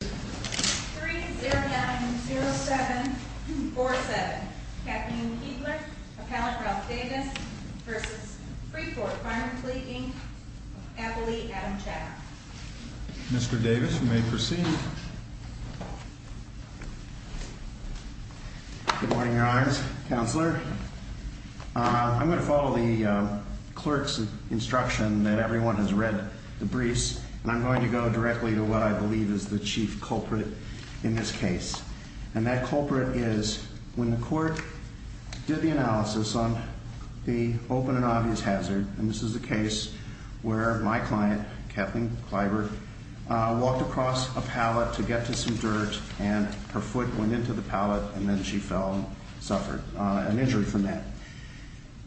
3090747 Kathleen Keebler, Appellant Ralph Davis v. Freeport Farm & Fleet, Inc. Appellee Adam Chaddock Mr. Davis, you may proceed. Good morning, Your Honors. Counselor, I'm going to follow the clerk's instruction that everyone has read the briefs, and I'm going to go directly to what I believe is the chief culprit in this case. And that culprit is when the court did the analysis on the open and obvious hazard, and this is a case where my client, Kathleen Kleiber, walked across a pallet to get to some dirt, and her foot went into the pallet, and then she fell and suffered an injury from that.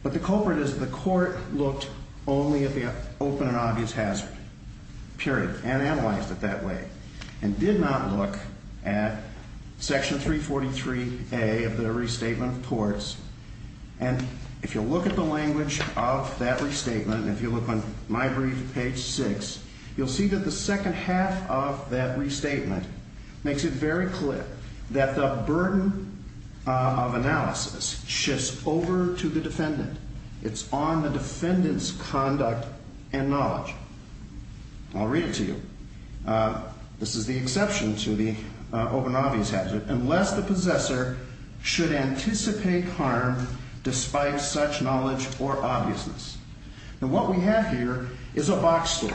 But the culprit is the court looked only at the open and obvious hazard, period, and analyzed it that way, and did not look at Section 343A of the Restatement of Courts. And if you look at the language of that restatement, if you look on my brief, page 6, you'll see that the second half of that restatement makes it very clear that the burden of analysis shifts over to the defendant. It's on the defendant's conduct and knowledge. I'll read it to you. This is the exception to the open and obvious hazard. Unless the possessor should anticipate harm despite such knowledge or obviousness. And what we have here is a box store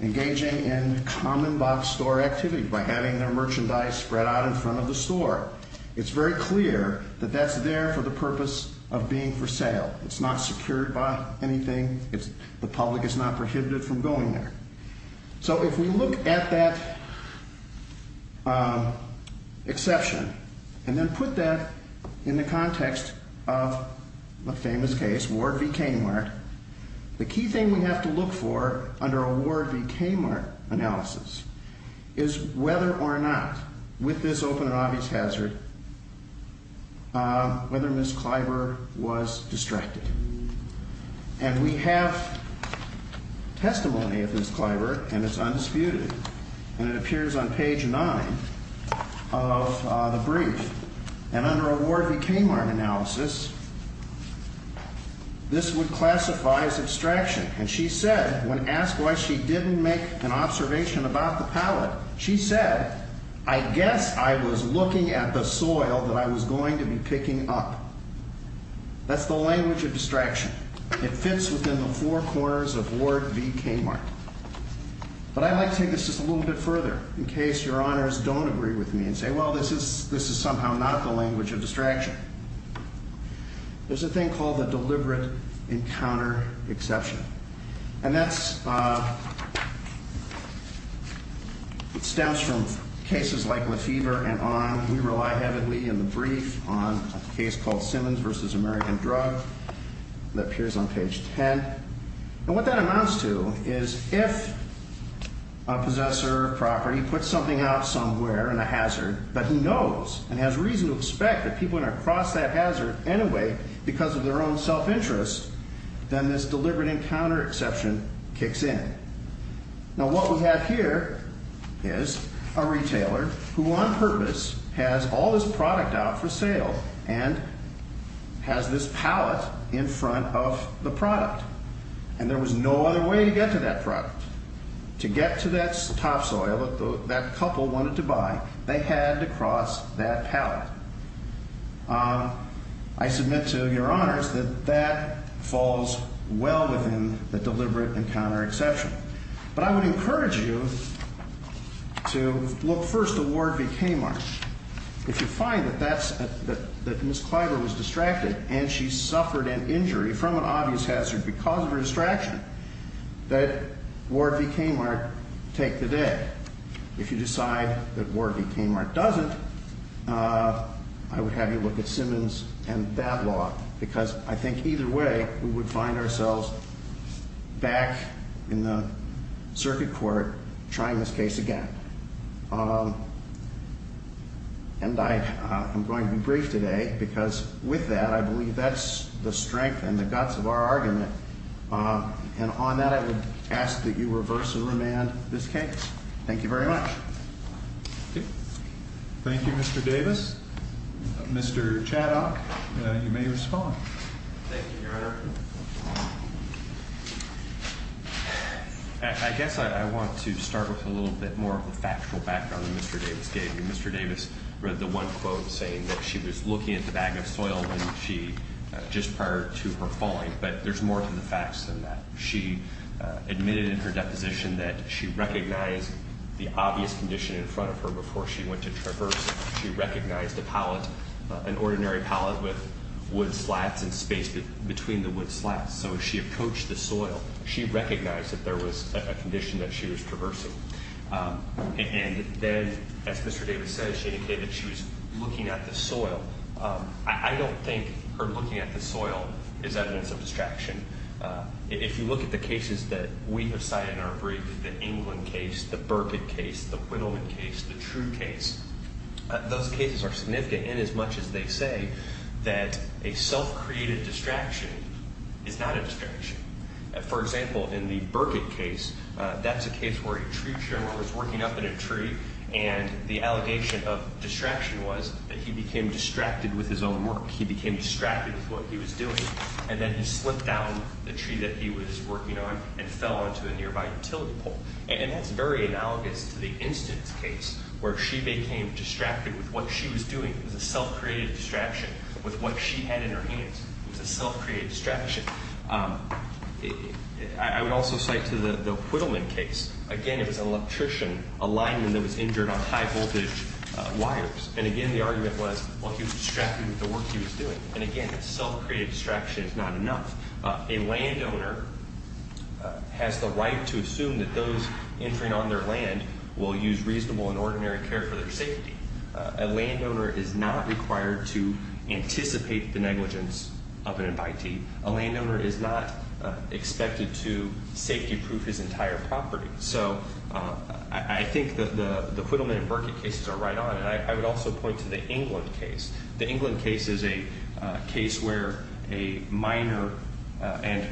engaging in common box store activity by having their merchandise spread out in front of the store. It's very clear that that's there for the purpose of being for sale. It's not secured by anything. The public is not prohibited from going there. So if we look at that exception and then put that in the context of a famous case, Ward v. Kmart, the key thing we have to look for under a Ward v. Kmart analysis is whether or not, with this open and obvious hazard, whether Ms. Kleiber was distracted. And we have testimony of Ms. Kleiber, and it's undisputed. And it appears on page 9 of the brief. And under a Ward v. Kmart analysis, this would classify as abstraction. And she said, when asked why she didn't make an observation about the pallet, she said, I guess I was looking at the soil that I was going to be picking up. That's the language of distraction. It fits within the four corners of Ward v. Kmart. But I'd like to take this just a little bit further in case your honors don't agree with me and say, well, this is somehow not the language of distraction. There's a thing called the deliberate encounter exception. And that stems from cases like Lefevre and on. We rely heavily in the brief on a case called Simmons v. American Drug that appears on page 10. And what that amounts to is if a possessor of property puts something out somewhere in a hazard that he knows and has reason to expect that people are going to cross that hazard anyway because of their own self-interest, then this deliberate encounter exception kicks in. Now, what we have here is a retailer who on purpose has all this product out for sale and has this pallet in front of the product. And there was no other way to get to that product. To get to that topsoil that that couple wanted to buy, they had to cross that pallet. I submit to your honors that that falls well within the deliberate encounter exception. But I would encourage you to look first at Ward v. Kmart. If you find that Ms. Clyburn was distracted and she suffered an injury from an obvious hazard because of her distraction, that Ward v. Kmart take the day. If you decide that Ward v. Kmart doesn't, I would have you look at Simmons and that law because I think either way we would find ourselves back in the circuit court trying this case again. And I am going to be brief today because with that, I believe that's the strength and the guts of our argument. And on that, I would ask that you reverse the remand of this case. Thank you very much. Thank you, Mr. Davis. Mr. Chaddock, you may respond. Thank you, Your Honor. I guess I want to start with a little bit more of the factual background that Mr. Davis gave you. Mr. Davis read the one quote saying that she was looking at the bag of soil just prior to her falling. But there's more to the facts than that. She admitted in her deposition that she recognized the obvious condition in front of her before she went to traverse. She recognized a pallet, an ordinary pallet with wood slats and space between the wood slats. So she approached the soil. She recognized that there was a condition that she was traversing. And then, as Mr. Davis said, she indicated that she was looking at the soil. I don't think her looking at the soil is evidence of distraction. If you look at the cases that we have cited in our brief, the England case, the Burkitt case, the Widowman case, the True case, those cases are significant inasmuch as they say that a self-created distraction is not a distraction. For example, in the Burkitt case, that's a case where a tree trimmer was working up in a tree, and the allegation of distraction was that he became distracted with his own work. He became distracted with what he was doing. And then he slipped down the tree that he was working on and fell onto a nearby utility pole. And that's very analogous to the instance case where she became distracted with what she was doing. It was a self-created distraction with what she had in her hands. It was a self-created distraction. I would also cite to the Widowman case. Again, it was an electrician, a lineman, that was injured on high-voltage wires. And again, the argument was, well, he was distracted with the work he was doing. And again, a self-created distraction is not enough. A landowner has the right to assume that those entering on their land will use reasonable and ordinary care for their safety. A landowner is not required to anticipate the negligence of an invitee. A landowner is not expected to safety-proof his entire property. So I think the Widowman and Burkitt cases are right on. And I would also point to the England case. The England case is a case where a miner and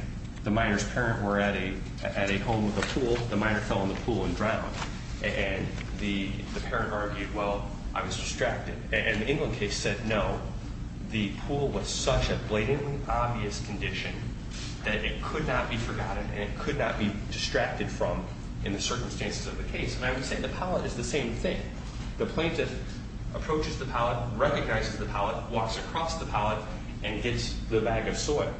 the miner's parent were at a home with a pool. The miner fell in the pool and drowned. And the parent argued, well, I was distracted. And the England case said, no, the pool was such a blatantly obvious condition that it could not be forgotten and it could not be distracted from in the circumstances of the case. And I would say the pallet is the same thing. The plaintiff approaches the pallet, recognizes the pallet, walks across the pallet, and hits the bag of soil.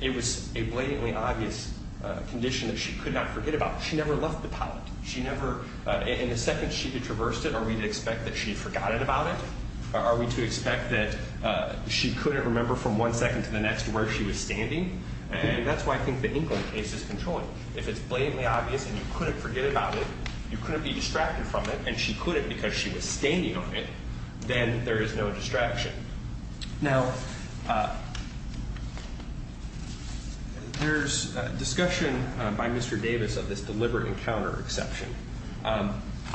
It was a blatantly obvious condition that she could not forget about. She never left the pallet. In the second she traversed it, are we to expect that she forgot about it? Are we to expect that she couldn't remember from one second to the next where she was standing? And that's why I think the England case is controlling. If it's blatantly obvious and you couldn't forget about it, you couldn't be distracted from it, and she couldn't because she was standing on it, then there is no distraction. Now, there's discussion by Mr. Davis of this deliberate encounter exception. I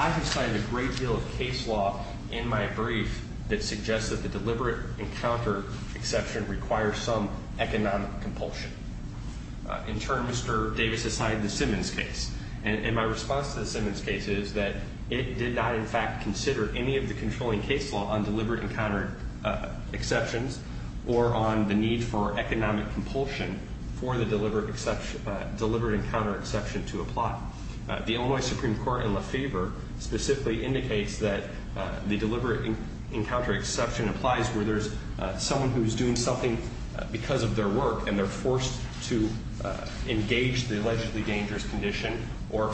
have cited a great deal of case law in my brief that suggests that the deliberate encounter exception requires some economic compulsion. In turn, Mr. Davis has cited the Simmons case. And my response to the Simmons case is that it did not, in fact, consider any of the controlling case law on deliberate encounter exceptions or on the need for economic compulsion for the deliberate encounter exception to apply. The Illinois Supreme Court, in LaFever, specifically indicates that the deliberate encounter exception applies where there's someone who's doing something because of their work, and they're forced to engage the allegedly dangerous condition or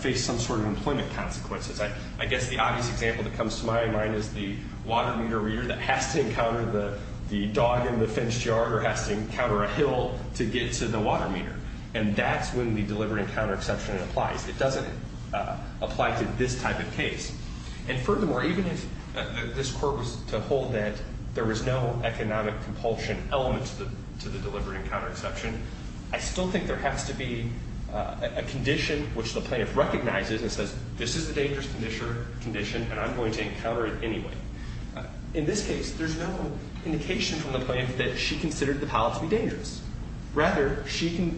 face some sort of employment consequences. I guess the obvious example that comes to my mind is the water meter reader that has to encounter the dog in the fence yard or has to encounter a hill to get to the water meter. And that's when the deliberate encounter exception applies. It doesn't apply to this type of case. And furthermore, even if this court was to hold that there was no economic compulsion element to the deliberate encounter exception, I still think there has to be a condition which the plaintiff recognizes and says, this is a dangerous condition, and I'm going to encounter it anyway. In this case, there's no indication from the plaintiff that she considered the pallet to be dangerous. Rather, she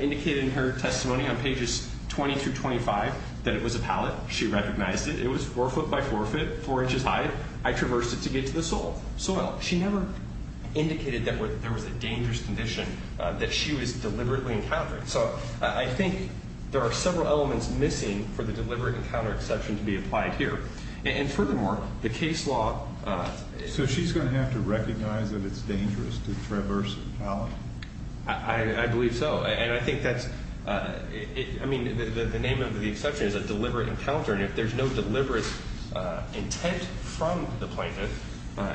indicated in her testimony on pages 20 through 25 that it was a pallet. She recognized it. It was four foot by four foot, four inches high. I traversed it to get to the soil. She never indicated that there was a dangerous condition that she was deliberately encountering. So I think there are several elements missing for the deliberate encounter exception to be applied here. And furthermore, the case law – So she's going to have to recognize that it's dangerous to traverse a pallet? I believe so. And I think that's – I mean, the name of the exception is a deliberate encounter, and if there's no deliberate intent from the plaintiff,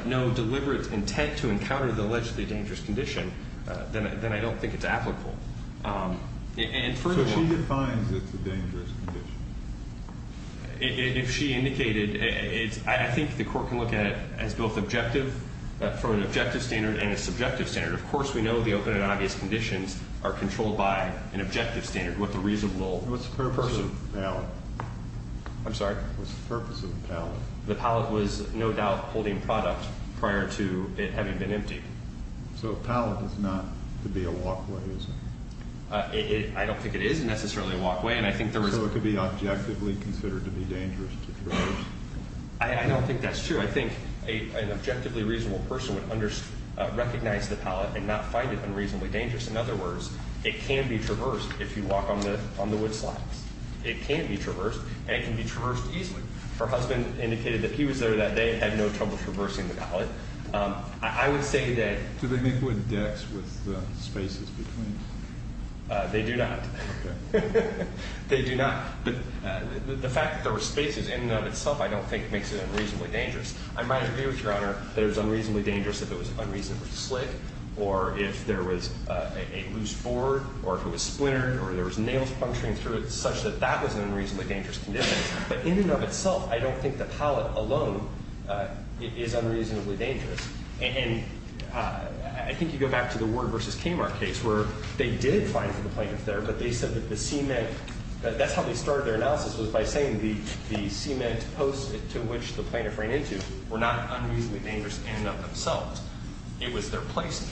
no deliberate intent to encounter the allegedly dangerous condition, then I don't think it's applicable. And furthermore – So she defines it's a dangerous condition? If she indicated – I think the court can look at it as both objective – from an objective standard and a subjective standard. Of course, we know the open and obvious conditions are controlled by an objective standard, what the reasonable person – I'm sorry? What's the purpose of the pallet? The pallet was no doubt holding product prior to it having been emptied. So a pallet is not to be a walkway, is it? I don't think it is necessarily a walkway, and I think there was – So it could be objectively considered to be dangerous to traverse? I don't think that's true. I think an objectively reasonable person would recognize the pallet and not find it unreasonably dangerous. In other words, it can be traversed if you walk on the wood slabs. It can be traversed, and it can be traversed easily. Her husband indicated that he was there that day and had no trouble traversing the pallet. I would say that – Do they make wood decks with the spaces between? They do not. Okay. They do not. But the fact that there were spaces in and of itself I don't think makes it unreasonably dangerous. I might agree with Your Honor that it was unreasonably dangerous if it was unreasonably slick or if there was a loose board or if it was splintered or there was nails puncturing through it such that that was an unreasonably dangerous condition. But in and of itself, I don't think the pallet alone is unreasonably dangerous. And I think you go back to the Ward v. Kamar case where they did find the plaintiff there, but they said that the cement – that's how they started their analysis was by saying the cement posts to which the plaintiff ran into were not unreasonably dangerous in and of themselves. It was their placing.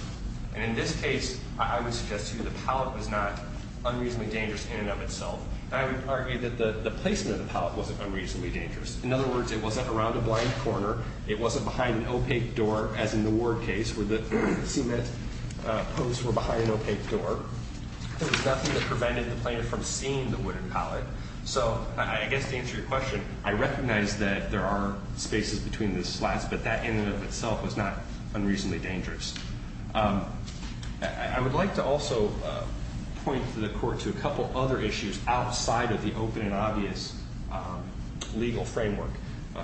And in this case, I would suggest to you the pallet was not an unreasonably dangerous in and of itself. I would argue that the placement of the pallet wasn't unreasonably dangerous. In other words, it wasn't around a blind corner. It wasn't behind an opaque door as in the Ward case where the cement posts were behind an opaque door. There was nothing that prevented the plaintiff from seeing the wooden pallet. So I guess to answer your question, I recognize that there are spaces between the slats, but that in and of itself was not unreasonably dangerous. I would like to also point the Court to a couple other issues outside of the open and obvious legal framework.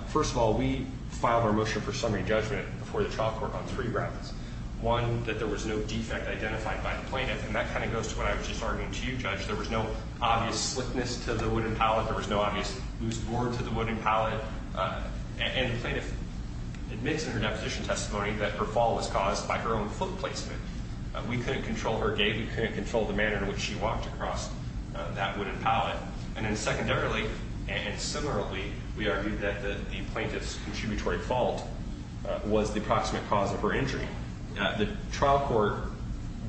First of all, we filed our motion for summary judgment before the trial court on three grounds. One, that there was no defect identified by the plaintiff, and that kind of goes to what I was just arguing to you, Judge. There was no obvious slickness to the wooden pallet. There was no obvious loose board to the wooden pallet. And the plaintiff admits in her deposition testimony that her fall was caused by her own foot placement. We couldn't control her gait. We couldn't control the manner in which she walked across that wooden pallet. And then secondarily and similarly, we argued that the plaintiff's contributory fault was the approximate cause of her injury. The trial court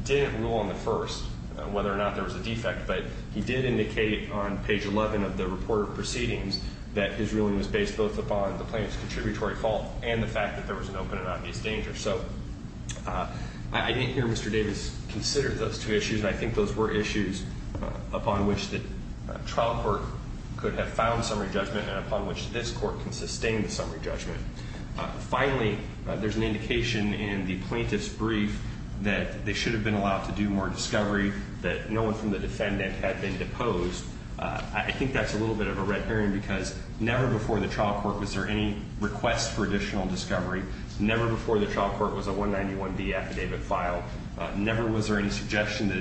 didn't rule on the first whether or not there was a defect, but he did indicate on page 11 of the report of proceedings that his ruling was based both upon the plaintiff's contributory fault and the fact that there was an open and obvious danger. So I didn't hear Mr. Davis consider those two issues, and I think those were issues upon which the trial court could have found summary judgment and upon which this Court can sustain the summary judgment. Finally, there's an indication in the plaintiff's brief that they should have been allowed to do more discovery, that no one from the defendant had been deposed. I think that's a little bit of a red herring because never before the trial court was there any request for additional discovery. Never before the trial court was a 191B affidavit filed. Never was there any suggestion that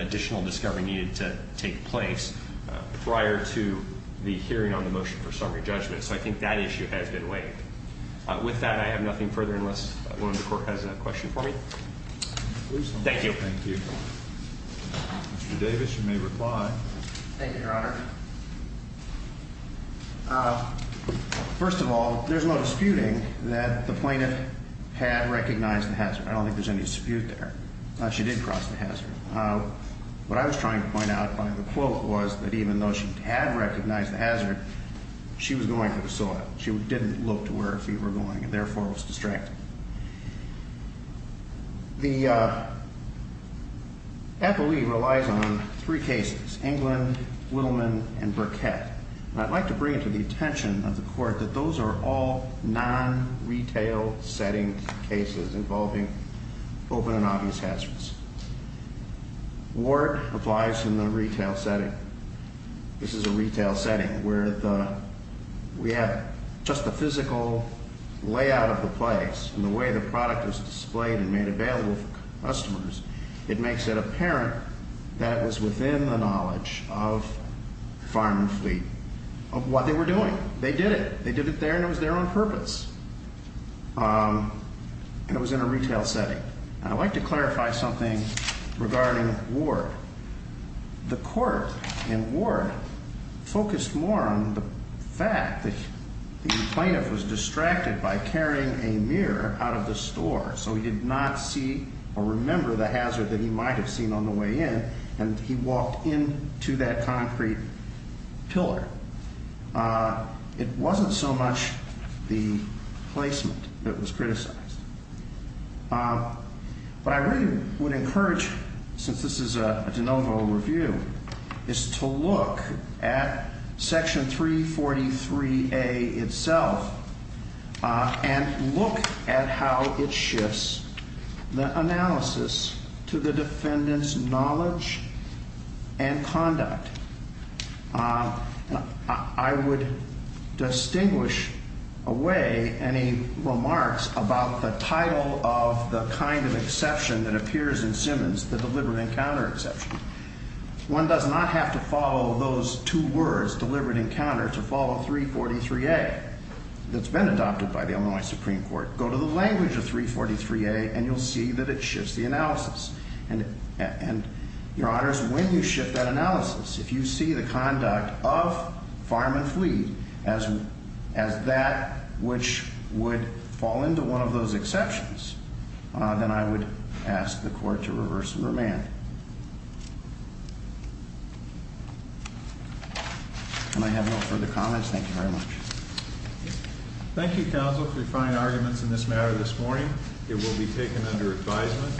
additional discovery needed to take place prior to the hearing on the motion for summary judgment. So I think that issue has been weighed. With that, I have nothing further unless one of the Court has a question for me. Thank you. Mr. Davis, you may reply. Thank you, Your Honor. First of all, there's no disputing that the plaintiff had recognized the hazard. I don't think there's any dispute there. She did cross the hazard. What I was trying to point out by the quote was that even though she had recognized the hazard, she was going for the soil. She didn't look to where her feet were going and therefore was distracted. The FOE relies on three cases, England, Willman, and Burkett. And I'd like to bring to the attention of the Court that those are all non-retail setting cases involving open and obvious hazards. Ward applies in the retail setting. This is a retail setting where we have just the physical layout of the place and the way the product is displayed and made available for customers, it makes it apparent that it was within the knowledge of Farm and Fleet of what they were doing. They did it. They did it there and it was their own purpose. And it was in a retail setting. And I'd like to clarify something regarding Ward. The Court in Ward focused more on the fact that the plaintiff was distracted by carrying a mirror out of the store so he did not see or remember the hazard that he might have seen on the way in and he walked into that concrete pillar. It wasn't so much the placement that was criticized. What I really would encourage, since this is a de novo review, is to look at Section 343A itself and look at how it shifts the analysis to the defendant's knowledge and conduct. I would distinguish away any remarks about the title of the kind of exception that appears in Simmons, the deliberate encounter exception. One does not have to follow those two words, deliberate encounter, to follow 343A that's been adopted by the Illinois Supreme Court. Go to the language of 343A and you'll see that it shifts the analysis. And, Your Honors, when you shift that analysis, if you see the conduct of farm and fleet as that which would fall into one of those exceptions, then I would ask the Court to reverse the remand. And I have no further comments. Thank you very much. Thank you, Counsel, for your fine arguments in this matter this morning. It will be taken under advisement.